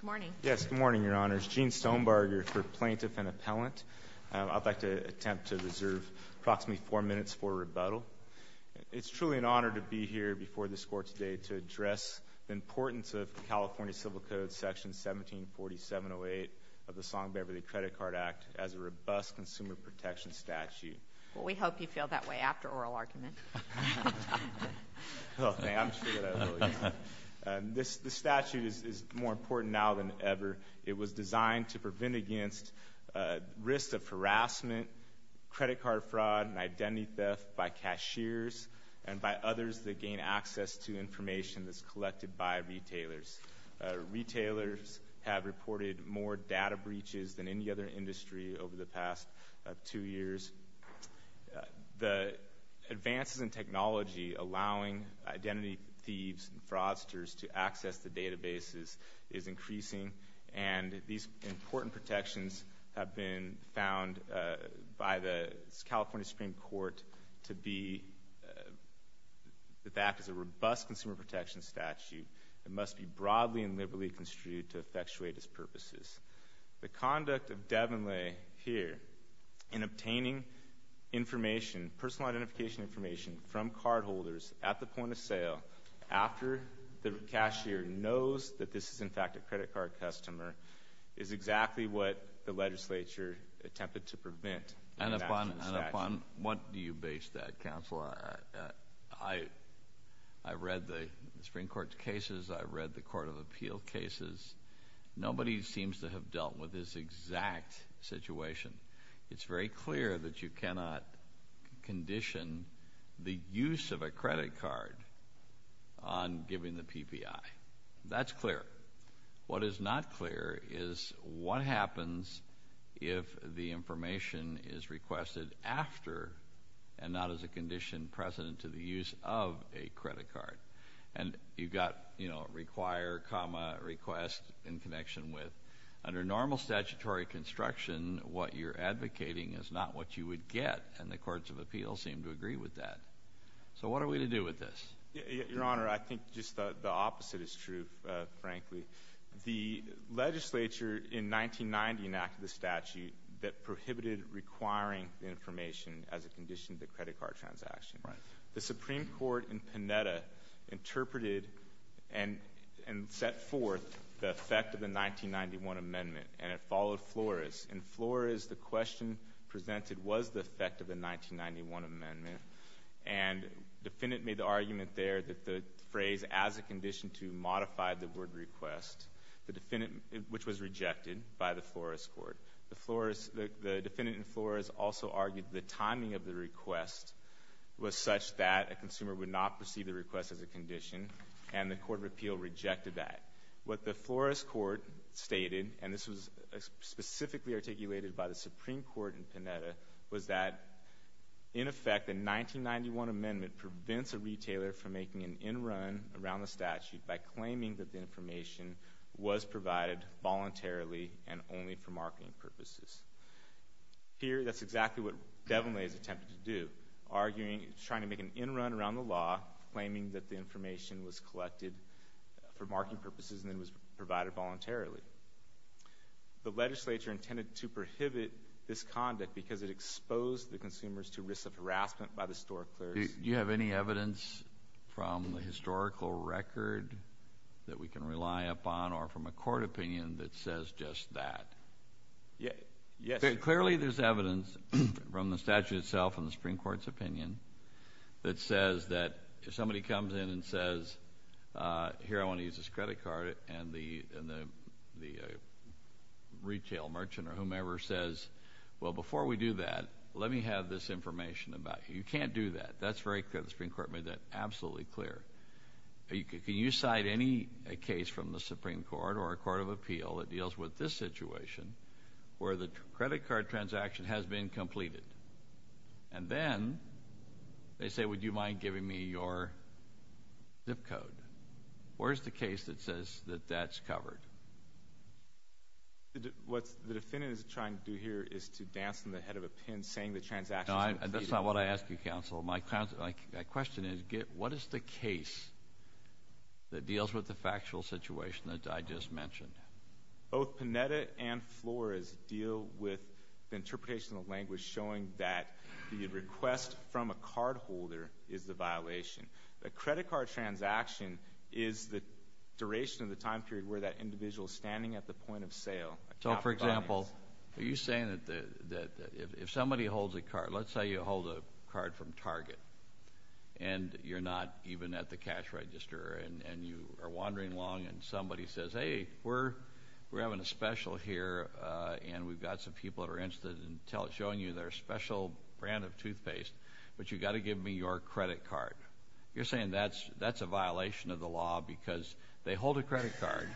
Good morning. Yes, good morning, Your Honors. Gene Stonebarger for Plaintiff and Appellant. I'd like to attempt to reserve approximately four minutes for rebuttal. It's truly an honor to be here before this court today to address the importance of the California Civil Code section 174708 of the Song-Beverly Credit Card Act as a robust consumer protection statute. Well, we hope you feel that way after oral argument. The statute is more important now than ever. It was designed to prevent against risk of harassment, credit card fraud, and identity theft by cashiers and by others that gain access to information that's collected by retailers. Retailers have reported more data breaches than any other industry over the past two years. The advances in technology allowing identity thieves and fraudsters to access the databases is increasing. And these important protections have been found by the California Supreme Court to be the fact is a robust consumer protection statute. It must be broadly and liberally construed to effectuate its purposes. The conduct of Devonley here in obtaining information, personal identification information from cardholders at the point of sale after the cashier knows that this is in fact a credit card customer is exactly what the legislature attempted to prevent. And upon, what do you base that counsel? I've read the Supreme Court's cases. I've read the court of appeal cases. Nobody seems to have dealt with this exact situation. It's very clear that you cannot condition the use of a credit card on giving the PPI. That's clear. What is not clear is what happens if the information is requested after, and not as a condition precedent to the use of a credit card. And you've got require, comma, request in connection with. Under normal statutory construction, what you're advocating is not what you would get, and the courts of appeal seem to agree with that. So what are we to do with this? Your Honor, I think just the opposite is true, frankly. The legislature in 1990 enacted the statute that prohibited requiring information as a condition to credit card transaction. The Supreme Court in Panetta interpreted and set forth the effect of the 1991 amendment, and it followed Flores. In Flores, the question presented was the effect of the 1991 amendment. And the defendant made the argument there that the phrase, as a condition to modify the word request, the defendant, which was rejected by the Flores Court. The defendant in Flores also argued the timing of the request was such that a consumer would not receive the request as a condition, and the court of appeal rejected that. What the Flores Court stated, and this was specifically articulated by the Supreme Court in Panetta, was that, in effect, the 1991 amendment prevents a retailer from making an in-run around the statute by claiming that the information was provided voluntarily and only for marketing purposes. Here, that's exactly what Devonley has attempted to do, arguing, trying to make an in-run around the law, claiming that the information was collected for marketing purposes and then was provided voluntarily. The legislature intended to prohibit this conduct because it exposed the consumers to risk of harassment by the store clerks. Do you have any evidence from the historical record that we can rely upon, or from a court opinion, that says just that? Yes. Clearly, there's evidence from the statute itself and the Supreme Court's opinion that says that if somebody comes in and says, here, I want to use this credit card, and the retail merchant or whomever says, well, before we do that, let me have this information about you. You can't do that. That's very clear. The Supreme Court made that absolutely clear. Can you cite any case from the Supreme Court or a court of appeal that deals with this situation, where the credit card transaction has been completed, and then they say, would you mind giving me your zip code? Where's the case that says that that's covered? What the defendant is trying to do here is to dance in the head of a pin, saying the transaction's completed. That's not what I asked you, counsel. My question is, what is the case that deals with the factual situation that I just mentioned? Both Panetta and Flores deal with the interpretation of language showing that the request from a cardholder is the violation. A credit card transaction is the duration of the time period where that individual's standing at the point of sale. So, for example, are you saying that if somebody holds a card, let's say you hold a card from Target, and you're not even at the cash register, and you are wandering along, and somebody says, hey, we're having a special here, and we've got some people that are interested in showing you their special brand of toothpaste, but you've got to give me your credit card. You're saying that's a violation of the law because they hold a credit card.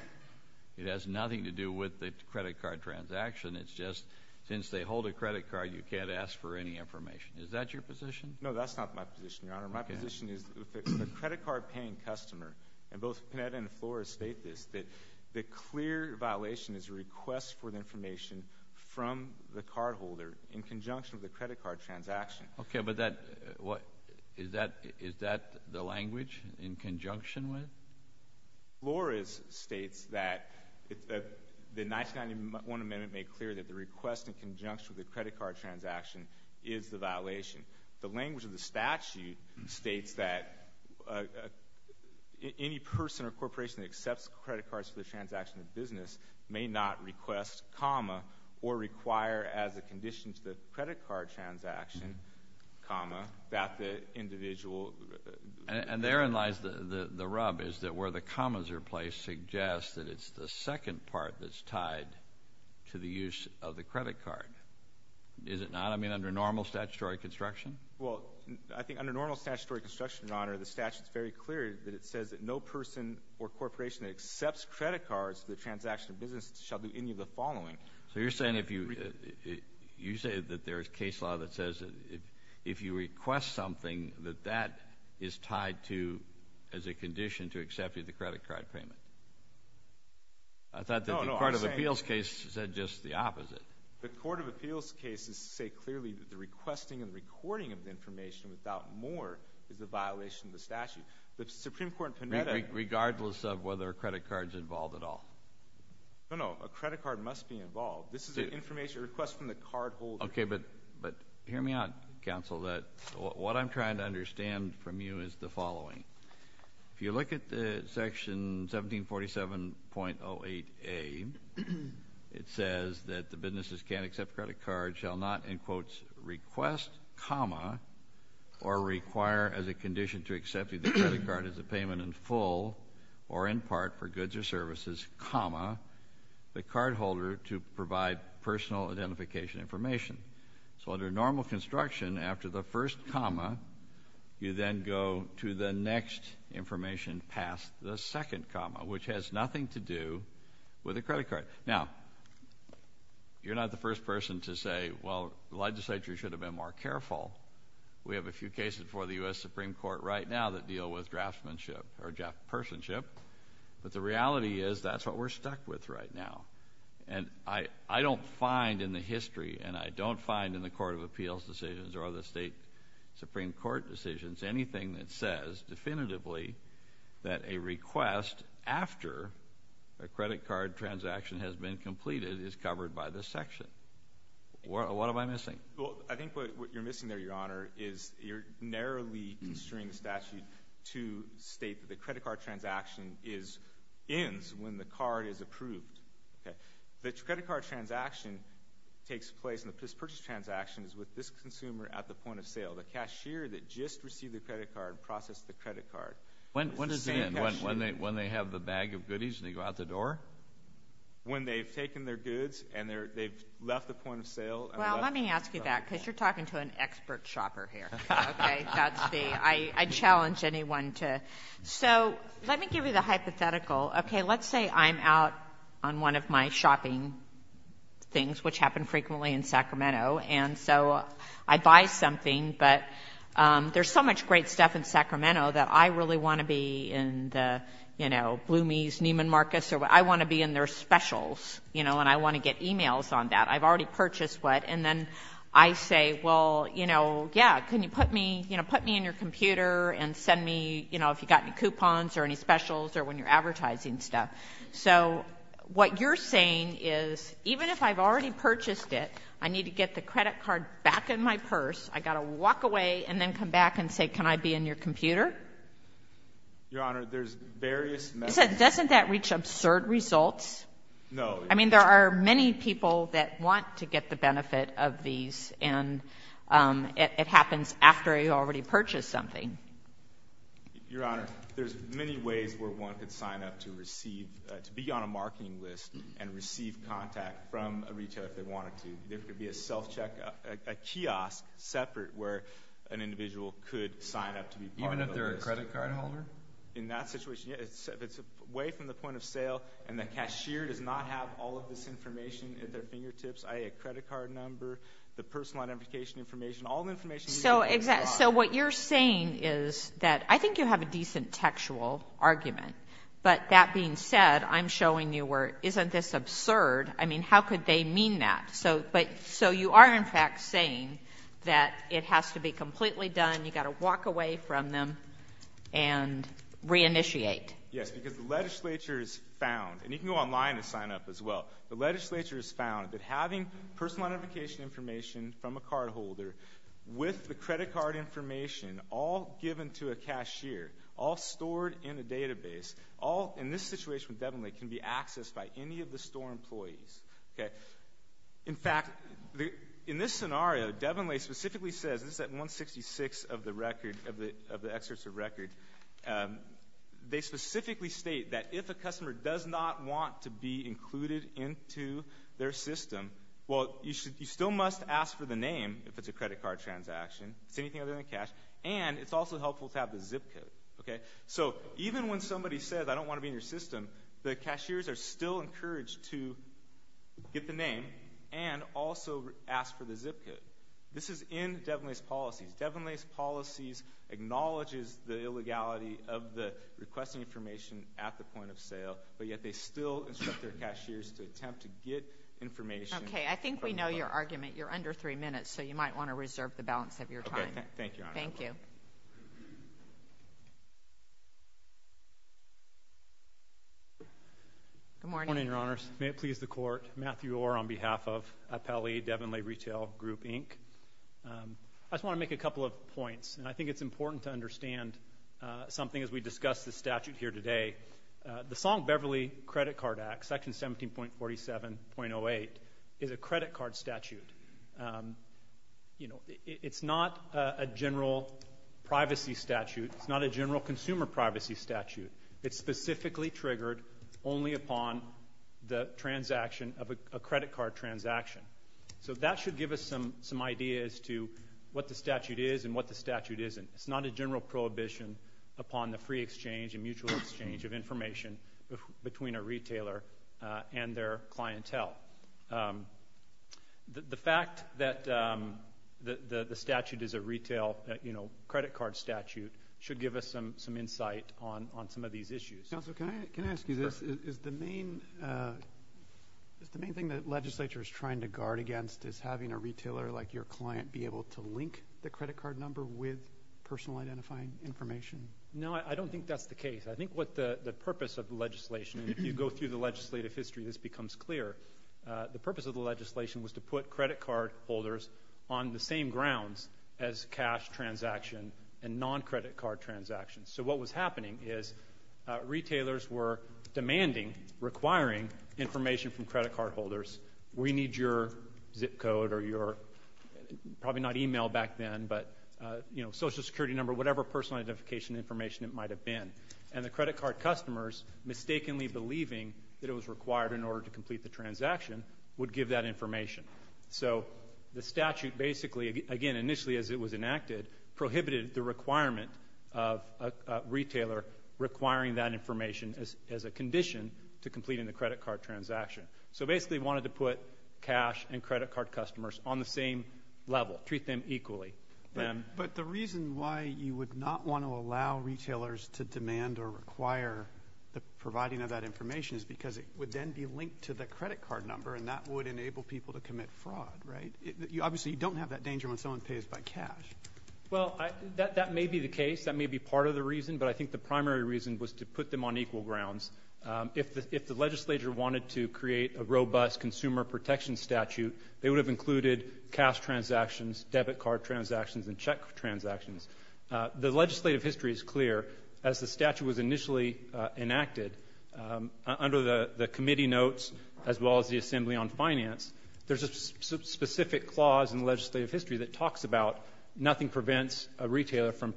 It has nothing to do with the credit card transaction. It's just, since they hold a credit card, you can't ask for any information. Is that your position? No, that's not my position, Your Honor. My position is the credit card paying customer, and both Panetta and Flores state this, that the clear violation is a request for the information from the cardholder in conjunction with the credit card transaction. Okay, but is that the language in conjunction with? Flores states that the 1991 amendment made clear that the request in conjunction with the credit card transaction is the violation. The language of the statute states that any person or corporation that accepts credit cards for the transaction of business may not request, or require as a condition to the credit card transaction, that the individual. And therein lies the rub, is that where the commas are placed suggests that it's the second part that's tied to the use of the credit card. Is it not? I mean, under normal statutory construction? Well, I think under normal statutory construction, Your Honor, the statute's very clear that it says that no person or corporation that accepts credit cards for the transaction of business shall do any of the following. So you're saying that there's case law that says that if you request something, that that is tied to, as a condition, to accepting the credit card payment? I thought that the Court of Appeals case said just the opposite. The Court of Appeals cases say clearly that the requesting and recording of the information without more is a violation of the statute. The Supreme Court in Panetta- Regardless of whether a credit card's involved at all. No, no, a credit card must be involved. This is an information request from the cardholder. Okay, but hear me out, counsel, that what I'm trying to understand from you is the following. If you look at the section 1747.08a, it says that the businesses can't accept credit cards, shall not, in quotes, request, comma, or require as a condition to accepting the credit card as a payment in full, or in part for goods or services, comma, the cardholder to provide personal identification information. So under normal construction, after the first comma, you then go to the next information past the second comma, which has nothing to do with a credit card. Now, you're not the first person to say, well, the legislature should have been more careful. We have a few cases before the US Supreme Court right now that deal with draftsmanship or draftpersonship. But the reality is, that's what we're stuck with right now. And I don't find in the history, and I don't find in the Court of Appeals decisions or the State Supreme Court decisions, anything that says definitively that a request after a credit card transaction has been completed is covered by this section. What am I missing? Well, I think what you're missing there, Your Honor, is you're narrowly constraining the statute to state that the credit card transaction ends when the card is approved. The credit card transaction takes place, and the purchase transaction is with this consumer at the point of sale. The cashier that just received the credit card processed the credit card. When does it end, when they have the bag of goodies, and they go out the door? When they've taken their goods, and they've left the point of sale. Well, let me ask you that, because you're talking to an expert shopper here, okay? That's the, I challenge anyone to. So, let me give you the hypothetical. Okay, let's say I'm out on one of my shopping things, which happen frequently in Sacramento. And so, I buy something, but there's so much great stuff in Sacramento that I really want to be in the, you know, Bloomy's, Neiman Marcus, I want to be in their specials, you know, and I want to get emails on that. I've already purchased what, and then I say, well, you know, yeah, can you put me, you know, put me in your computer and send me, you know, if you've got any coupons or any specials or when you're advertising stuff. So, what you're saying is, even if I've already purchased it, I need to get the credit card back in my purse. I've got to walk away and then come back and say, can I be in your computer? Your Honor, there's various methods. Doesn't that reach absurd results? No. I mean, there are many people that want to get the benefit of these, and it happens after you've already purchased something. Your Honor, there's many ways where one could sign up to receive, to be on a marketing list and receive contact from a retailer if they wanted to. There could be a self-check, a kiosk separate where an individual could sign up to be part of the list. Even if they're a credit card holder? In that situation, yeah, if it's away from the point of sale and the cashier does not have all of this information at their fingertips, i.e., a credit card number, the personal identification information, all the information- So, what you're saying is that, I think you have a decent textual argument. But that being said, I'm showing you where, isn't this absurd? I mean, how could they mean that? So, you are in fact saying that it has to be completely done, you've got to walk away from them and re-initiate. Yes, because the legislature is found, and you can go online and sign up as well. The legislature is found that having personal identification information from a card holder with the credit card information all given to a cashier, all stored in a database, all in this situation with Devonlay can be accessed by any of the store employees. Okay? In fact, in this scenario, Devonlay specifically says, this is at 166 of the record, of the excerpts of record. They specifically state that if a customer does not want to be included into their system, well, you still must ask for the name, if it's a credit card transaction, if it's anything other than cash, and it's also helpful to have the zip code, okay? So, even when somebody says, I don't want to be in your system, the cashiers are still encouraged to get the name and also ask for the zip code. This is in Devonlay's policies. Devonlay's policies acknowledges the illegality of the requesting information at the point of sale, but yet they still instruct their cashiers to attempt to get information. Okay, I think we know your argument. You're under three minutes, so you might want to reserve the balance of your time. Okay, thank you, Your Honor. Thank you. Good morning. Good morning, Your Honors. May it please the Court. Matthew Orr on behalf of Appellee Devonlay Retail Group, Inc. I just want to make a couple of points, and I think it's important to understand something as we discuss the statute here today. The Song-Beverly Credit Card Act, Section 17.47.08, is a credit card statute. You know, it's not a general privacy statute. It's not a general consumer privacy statute. It's specifically triggered only upon the transaction of a credit card transaction. So that should give us some ideas to what the statute is and what the statute isn't. It's not a general prohibition upon the free exchange and mutual exchange of information between a retailer and their clientele. The fact that the statute is a retail credit card statute should give us some insight on some of these issues. Counsel, can I ask you this? Is the main thing that legislature is trying to guard against is having a retailer, like your client, be able to link the credit card number with personal identifying information? No, I don't think that's the case. I think what the purpose of the legislation, and if you go through the legislative history, this becomes clear. The purpose of the legislation was to put credit card holders on the same grounds as cash transaction and non-credit card transactions. So what was happening is retailers were demanding, requiring information from credit card holders. We need your zip code or your, probably not email back then, but social security number, whatever personal identification information it might have been. And the credit card customers mistakenly believing that it was required in order to complete the transaction would give that information. So the statute basically, again, initially as it was enacted, prohibited the requirement of a retailer requiring that information as a condition to complete in the credit card transaction. So basically wanted to put cash and credit card customers on the same level, treat them equally. But the reason why you would not want to allow retailers to demand or require the providing of that information is because it would then be linked to the credit card number and that would enable people to commit fraud, right? Obviously, you don't have that danger when someone pays by cash. Well, that may be the case. That may be part of the reason. But I think the primary reason was to put them on equal grounds. If the legislature wanted to create a robust consumer protection statute, they would have included cash transactions, debit card transactions, and check transactions. The legislative history is clear. As the statute was initially enacted, under the committee notes, as well as the assembly on finance, there's a specific clause in legislative history that talks about nothing prevents a retailer from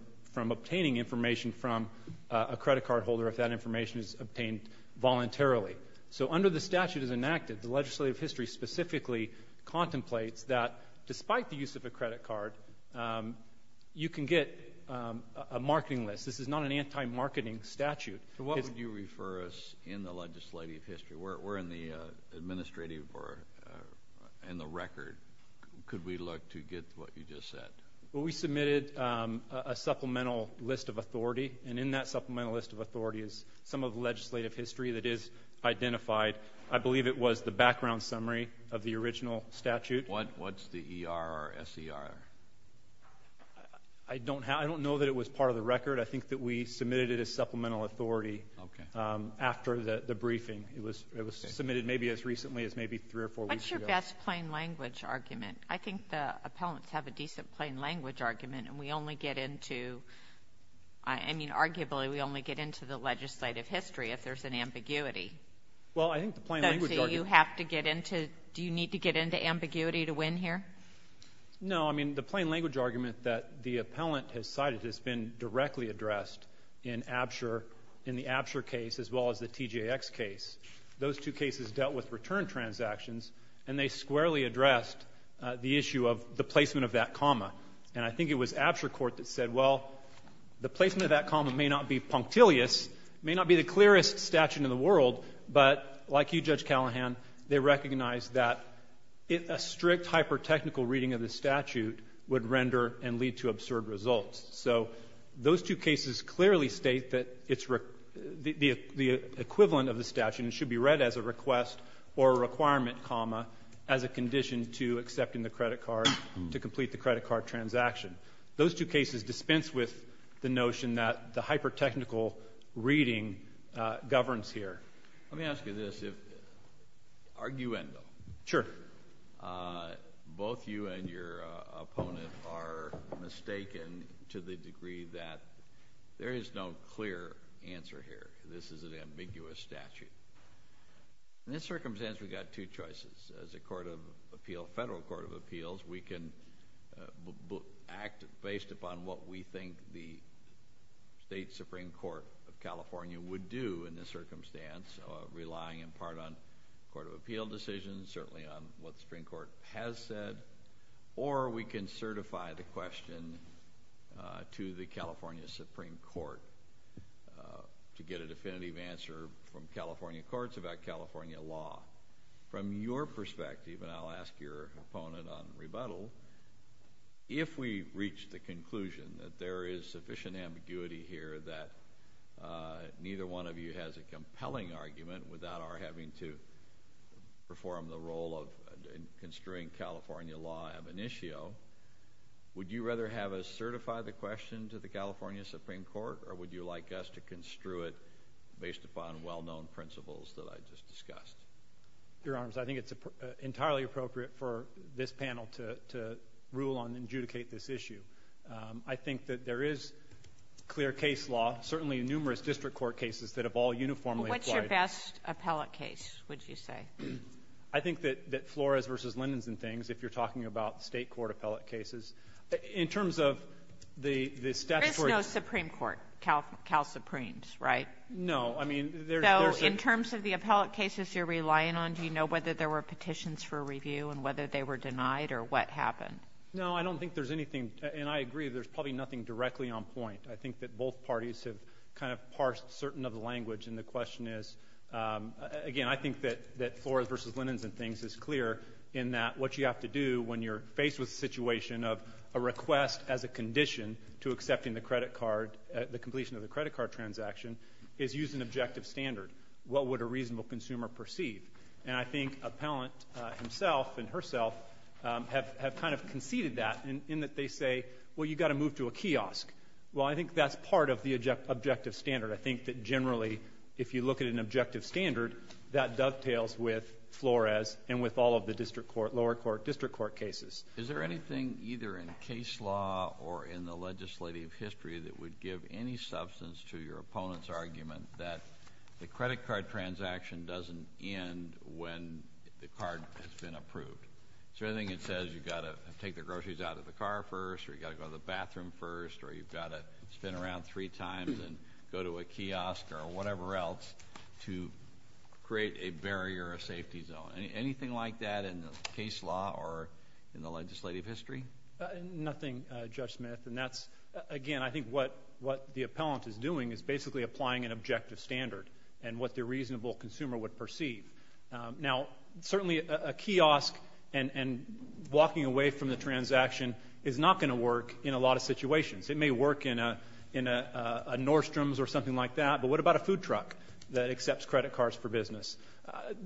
obtaining information from a credit card holder if that information is obtained voluntarily. So under the statute as enacted, the legislative history specifically contemplates that despite the use of a credit card, you can get a marketing list. This is not an anti-marketing statute. What would you refer us in the legislative history? We're in the administrative or in the record. Could we look to get what you just said? Well, we submitted a supplemental list of authority, and in that supplemental list of authority is some of the legislative history that is identified. I believe it was the background summary of the original statute. What's the ER or SER? I don't know that it was part of the record. I think that we submitted it as supplemental authority after the briefing. It was submitted maybe as recently as maybe three or four weeks ago. What's your best plain language argument? I think the appellants have a decent plain language argument, and we only get into, I mean, arguably, we only get into the legislative history if there's an ambiguity. Well, I think the plain language argument- So you have to get into, do you need to get into ambiguity to win here? No, I mean, the plain language argument that the appellant has cited has been directly addressed in the Absher case as well as the TJX case. Those two cases dealt with return transactions, and they squarely addressed the issue of the placement of that comma. And I think it was Absher court that said, well, the placement of that comma may not be punctilious, may not be the clearest statute in the world, but like you, Judge Callahan, they recognized that a strict hyper-technical reading of the statute would render and lead to absurd results. So those two cases clearly state that the equivalent of the statute should be read as a request or a requirement comma as a condition to accepting the credit card to complete the credit card transaction. Those two cases dispense with the notion that the hyper-technical reading governs here. Let me ask you this. If, arguendo. Sure. Both you and your opponent are mistaken to the degree that there is no clear answer here. This is an ambiguous statute. In this circumstance, we've got two choices. As a court of appeal, federal court of appeals, we can act based upon what we think the state supreme court of California would do in this circumstance, relying in part on court of appeal decisions, certainly on what the Supreme Court has said, or we can certify the question to the California Supreme Court to get a definitive answer from California courts about California law. From your perspective, and I'll ask your opponent on rebuttal, if we reach the conclusion that there is sufficient ambiguity here that neither one of you has a compelling argument without our having to perform the role of construing California law ab initio, would you rather have us certify the question to the California Supreme Court, or would you like us to construe it based upon well-known principles that I just discussed? Your Honor, I think it's entirely appropriate for this panel to rule on and adjudicate this issue. I think that there is clear case law, certainly in numerous district court cases, that have all uniformly applied. What's your best appellate case, would you say? I think that Flores v. Lindens and things, if you're talking about state court appellate cases. In terms of the statutory — There is no Supreme Court, Cal Supremes, right? No. I mean, there's — In terms of the appellate cases you're relying on, do you know whether there were petitions for review and whether they were denied or what happened? No, I don't think there's anything. And I agree, there's probably nothing directly on point. I think that both parties have kind of parsed certain of the language. And the question is, again, I think that Flores v. Lindens and things is clear in that what you have to do when you're faced with a situation of a request as a condition to accepting the credit card, the completion of the credit card transaction, is use an objective standard. What would a reasonable consumer perceive? And I think appellant himself and herself have kind of conceded that in that they say, well, you've got to move to a kiosk. Well, I think that's part of the objective standard. I think that generally, if you look at an objective standard, that dovetails with Flores and with all of the district court, lower court, district court cases. Is there anything either in case law or in the legislative history that would give any doesn't end when the card has been approved? Is there anything that says you've got to take the groceries out of the car first, or you've got to go to the bathroom first, or you've got to spin around three times and go to a kiosk or whatever else to create a barrier or a safety zone? Anything like that in the case law or in the legislative history? Nothing, Judge Smith. And that's, again, I think what the appellant is doing is basically applying an objective standard and what the reasonable consumer would perceive. Now, certainly a kiosk and walking away from the transaction is not going to work in a lot of situations. It may work in a Nordstrom's or something like that, but what about a food truck that accepts credit cards for business?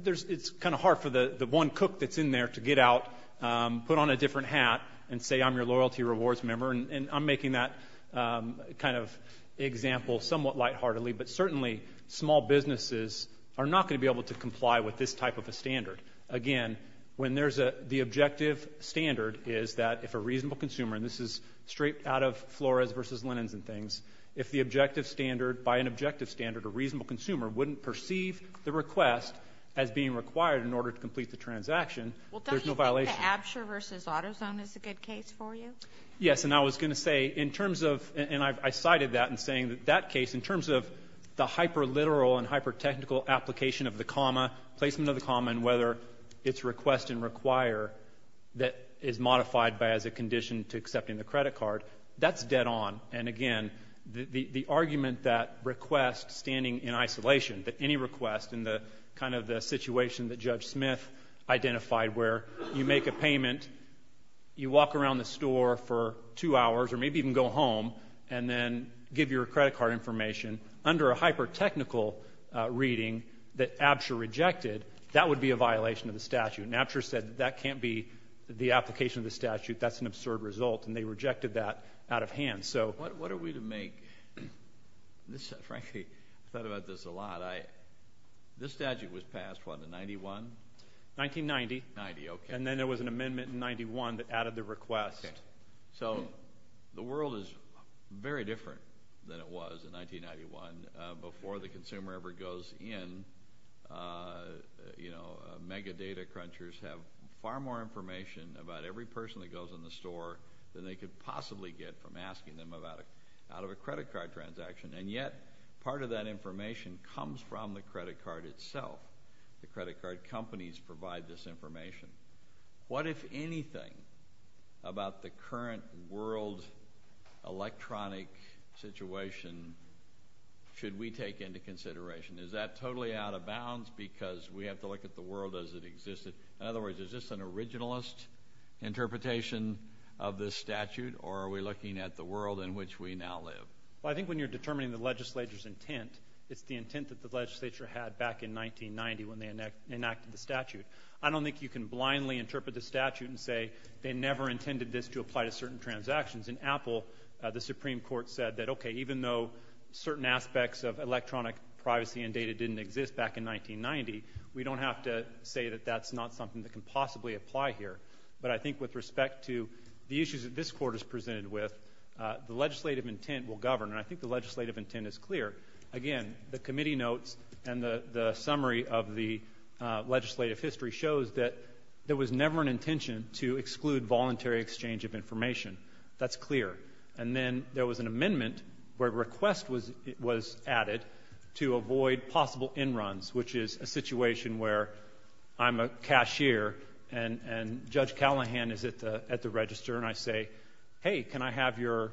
It's kind of hard for the one cook that's in there to get out, put on a different hat, and say, I'm your loyalty rewards member, and I'm making that kind of example somewhat lightheartedly, but certainly small businesses are not going to be able to comply with this type of a standard. Again, when there's the objective standard is that if a reasonable consumer, and this is straight out of Flores versus Lennon's and things, if the objective standard, by an objective standard, a reasonable consumer wouldn't perceive the request as being required in order to complete the transaction, there's no violation. Well, don't you think the Absher versus AutoZone is a good case for you? Yes, and I was going to say in terms of, and I cited that in saying that that case, in terms of the hyperliteral and hypertechnical application of the comma, placement of the comma, and whether it's request and require that is modified by as a condition to accepting the credit card, that's dead on. And again, the argument that request standing in isolation, that any request in the kind of the situation that Judge Smith identified where you make a payment, you walk around the store for two hours, or maybe even go home, and then give your credit card information, under a hypertechnical reading that Absher rejected, that would be a violation of the statute. And Absher said that can't be the application of the statute, that's an absurd result, and they rejected that out of hand. So what are we to make, this frankly, I thought about this a lot. This statute was passed, what, in 91? 1990. 90, okay. And then there was an amendment in 91 that added the request. So the world is very different than it was in 1991. Before the consumer ever goes in, you know, mega data crunchers have far more information about every person that goes in the store than they could possibly get from asking them about it, out of a credit card transaction. And yet, part of that information comes from the credit card itself. The credit card companies provide this information. What if anything, about the current world electronic situation, should we take into consideration? Is that totally out of bounds, because we have to look at the world as it existed? In other words, is this an originalist interpretation of this statute, or are we looking at the world in which we now live? Well, I think when you're determining the legislature's intent, it's the intent that enacted the statute. I don't think you can blindly interpret the statute and say they never intended this to apply to certain transactions. In Apple, the Supreme Court said that, okay, even though certain aspects of electronic privacy and data didn't exist back in 1990, we don't have to say that that's not something that can possibly apply here. But I think with respect to the issues that this Court is presented with, the legislative intent will govern. And I think the legislative intent is clear. Again, the committee notes and the summary of the legislative history shows that there was never an intention to exclude voluntary exchange of information. That's clear. And then there was an amendment where a request was added to avoid possible in-runs, which is a situation where I'm a cashier, and Judge Callahan is at the register, and I say, hey, can I have your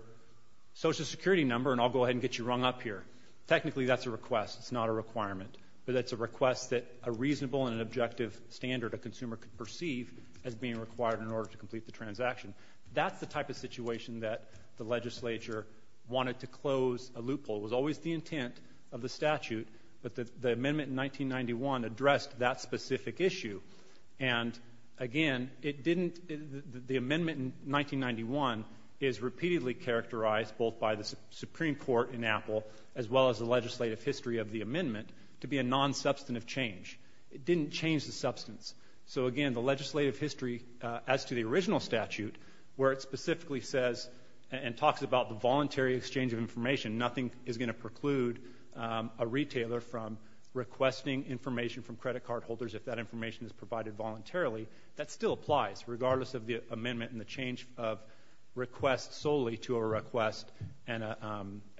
Social Security number, and I'll go ahead and get you rung up here. Technically that's a request. It's not a requirement. But that's a request that a reasonable and an objective standard a consumer could perceive as being required in order to complete the transaction. That's the type of situation that the legislature wanted to close a loophole. It was always the intent of the statute, but the amendment in 1991 addressed that specific issue. And again, it didn't, the amendment in 1991 is repeatedly characterized both by the Supreme Court in Apple, as well as the legislative history of the amendment, to be a non-substantive change. It didn't change the substance. So again, the legislative history as to the original statute, where it specifically says and talks about the voluntary exchange of information, nothing is going to preclude a retailer from requesting information from credit card holders if that information is provided voluntarily. That still applies, regardless of the amendment and the change of request solely to a request and,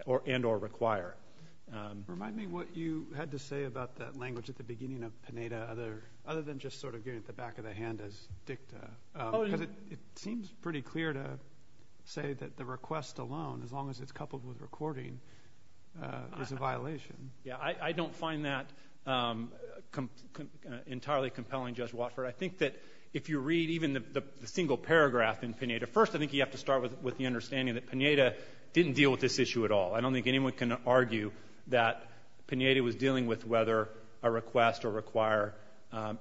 or require. Remind me what you had to say about that language at the beginning of Pineda, other than just sort of getting at the back of the hand as dicta, because it seems pretty clear to say that the request alone, as long as it's coupled with recording, is a violation. Yeah. I don't find that entirely compelling, Judge Watford. I think that if you read even the single paragraph in Pineda, first I think you have to start with the understanding that Pineda didn't deal with this issue at all. I don't think anyone can argue that Pineda was dealing with whether a request or require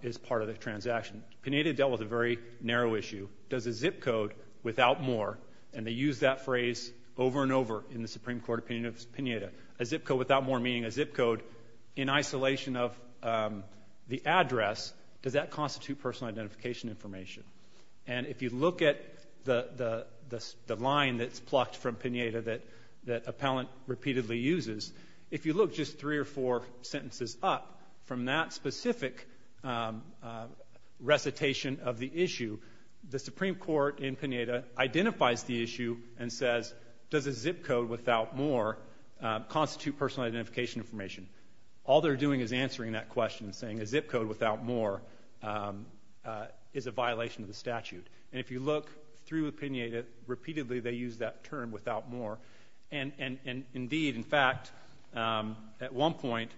is part of the transaction. Pineda dealt with a very narrow issue. Does a zip code without more, and they use that phrase over and over in the Supreme Court opinion of Pineda, a zip code without more meaning a zip code in isolation of the address, does that constitute personal identification information? And if you look at the line that's plucked from Pineda that appellant repeatedly uses, if you look just three or four sentences up from that specific recitation of the issue, the Supreme Court in Pineda identifies the issue and says, does a zip code without more constitute personal identification information? All they're doing is answering that question, saying a zip code without more is a violation of the statute. And if you look through Pineda, repeatedly they use that term without more, and indeed in fact, at one point,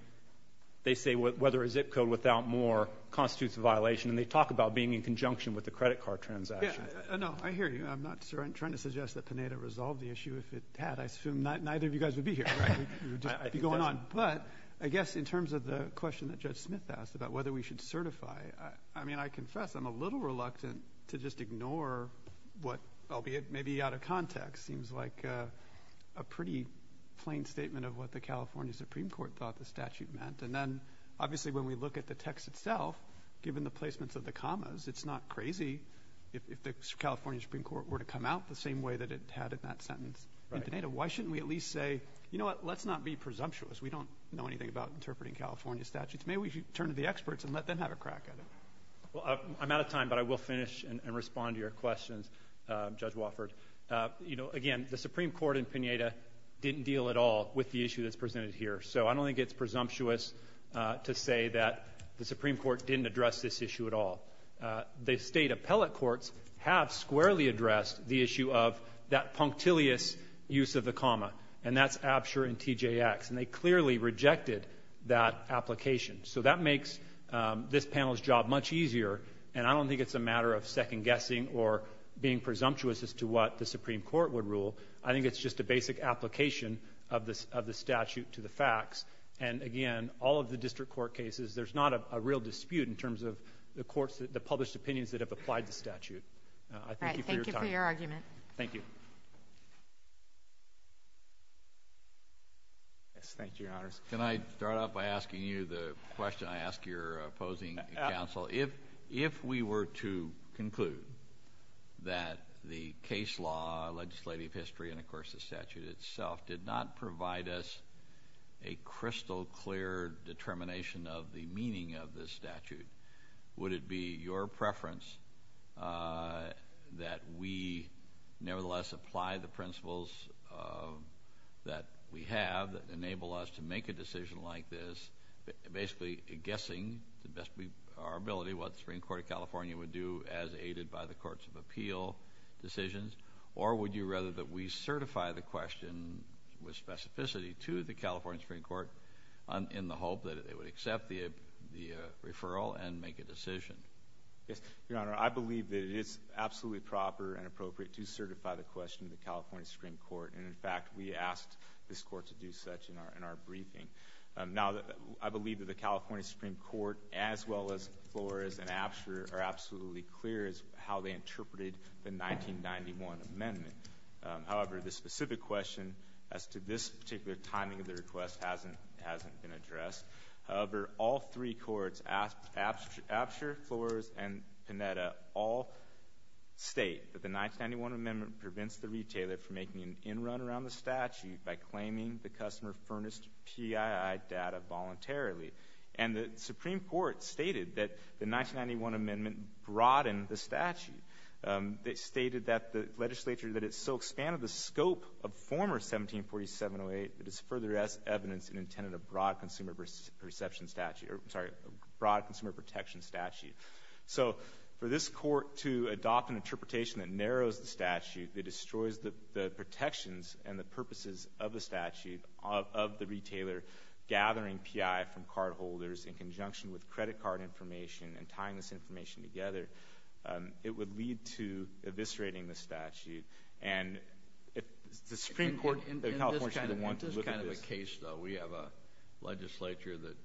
they say whether a zip code without more constitutes a violation, and they talk about being in conjunction with the credit card transaction. Yeah, no, I hear you. I'm not trying to suggest that Pineda resolved the issue. If it had, I assume neither of you guys would be here, you'd just be going on. But I guess in terms of the question that Judge Smith asked about whether we should certify, I mean, I confess I'm a little reluctant to just ignore what, albeit maybe out of context, seems like a pretty plain statement of what the California Supreme Court thought the statute meant. And then obviously when we look at the text itself, given the placements of the commas, it's not crazy if the California Supreme Court were to come out the same way that it had in that sentence in Pineda. Why shouldn't we at least say, you know what, let's not be presumptuous. We don't know anything about interpreting California statutes. Maybe we should turn to the experts and let them have a crack at it. Well, I'm out of time, but I will finish and respond to your questions, Judge Wofford. You know, again, the Supreme Court in Pineda didn't deal at all with the issue that's presented here. So I don't think it's presumptuous to say that the Supreme Court didn't address this issue at all. The state appellate courts have squarely addressed the issue of that punctilious use of the comma, and that's Absher and TJX. And they clearly rejected that application. So that makes this panel's job much easier, and I don't think it's a matter of second guessing or being presumptuous as to what the Supreme Court would rule. I think it's just a basic application of the statute to the facts. And, again, all of the district court cases, there's not a real dispute in terms of the courts, the published opinions that have applied the statute. I thank you for your time. Thank you for your argument. Thank you. Yes, thank you, Your Honors. Can I start off by asking you the question I ask your opposing counsel? If we were to conclude that the case law, legislative history, and, of course, the statute itself did not provide us a crystal clear determination of the meaning of the statute, would it be your preference that we nevertheless apply the principles that we have that are in the statute, or would you rather that we certify the question with specificity to the California Supreme Court in the hope that it would accept the referral and make a decision? Your Honor, I believe that it is absolutely proper and appropriate to certify the question to the California Supreme Court, and, in fact, we asked this Court to do such in our briefing. Now, I believe that the California Supreme Court, as well as Flores and Apsher, are absolutely clear as to how they interpreted the 1991 amendment. However, the specific question as to this particular timing of the request hasn't been addressed. However, all three courts, Apsher, Flores, and Panetta, all state that the 1991 amendment prevents the retailer from making an in run around the statute by claiming the customer furnished PII data voluntarily. And the Supreme Court stated that the 1991 amendment broadened the statute. They stated that the legislature that it so expanded the scope of former 1747-08 that it further evidence and intended a broad consumer protection statute. So for this court to adopt an interpretation that narrows the statute, that destroys the purposes of the statute, of the retailer gathering PII from card holders in conjunction with credit card information and tying this information together, it would lead to eviscerating the statute. And if the Supreme Court of California wanted to look at this- In this kind of a case, though, we have a legislature that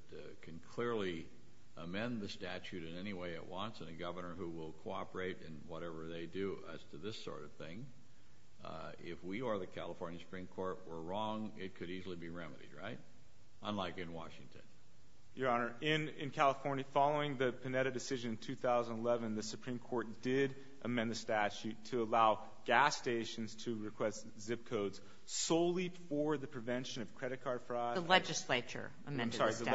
can clearly amend the statute in any way it wants, and a governor who will cooperate in whatever they do as to this sort of thing. If we or the California Supreme Court were wrong, it could easily be remedied, right? Unlike in Washington. Your Honor, in California, following the Panetta decision in 2011, the Supreme Court did amend the statute to allow gas stations to request zip codes solely for the prevention of credit card fraud. The legislature amended the statute.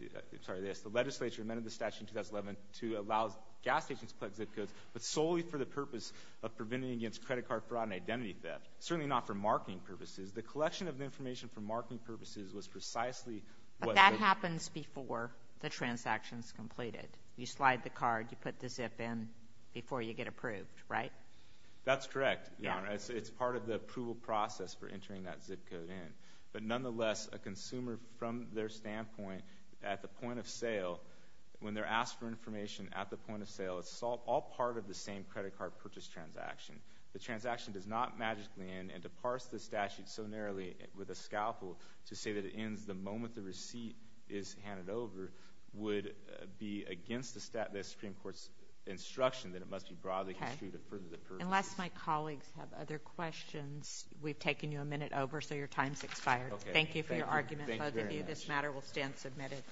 I'm sorry, the legislature amended the statute in 2011 to allow gas stations to collect zip codes, but solely for the purpose of preventing against credit card fraud and identity theft. Certainly not for marketing purposes. The collection of information for marketing purposes was precisely what- But that happens before the transaction's completed. You slide the card, you put the zip in before you get approved, right? That's correct, Your Honor. It's part of the approval process for entering that zip code in. But nonetheless, a consumer, from their standpoint, at the point of sale, when they're asked for information at the point of sale, it's all part of the same credit card purchase transaction. The transaction does not magically end, and to parse the statute so narrowly with a scalpel to say that it ends the moment the receipt is handed over would be against the Supreme Court's instruction that it must be broadly construed to further the purpose. Unless my colleagues have other questions, we've taken you a minute over, so your time's expired. Thank you for your argument. Thank you very much. This matter will stand submitted. Thank you.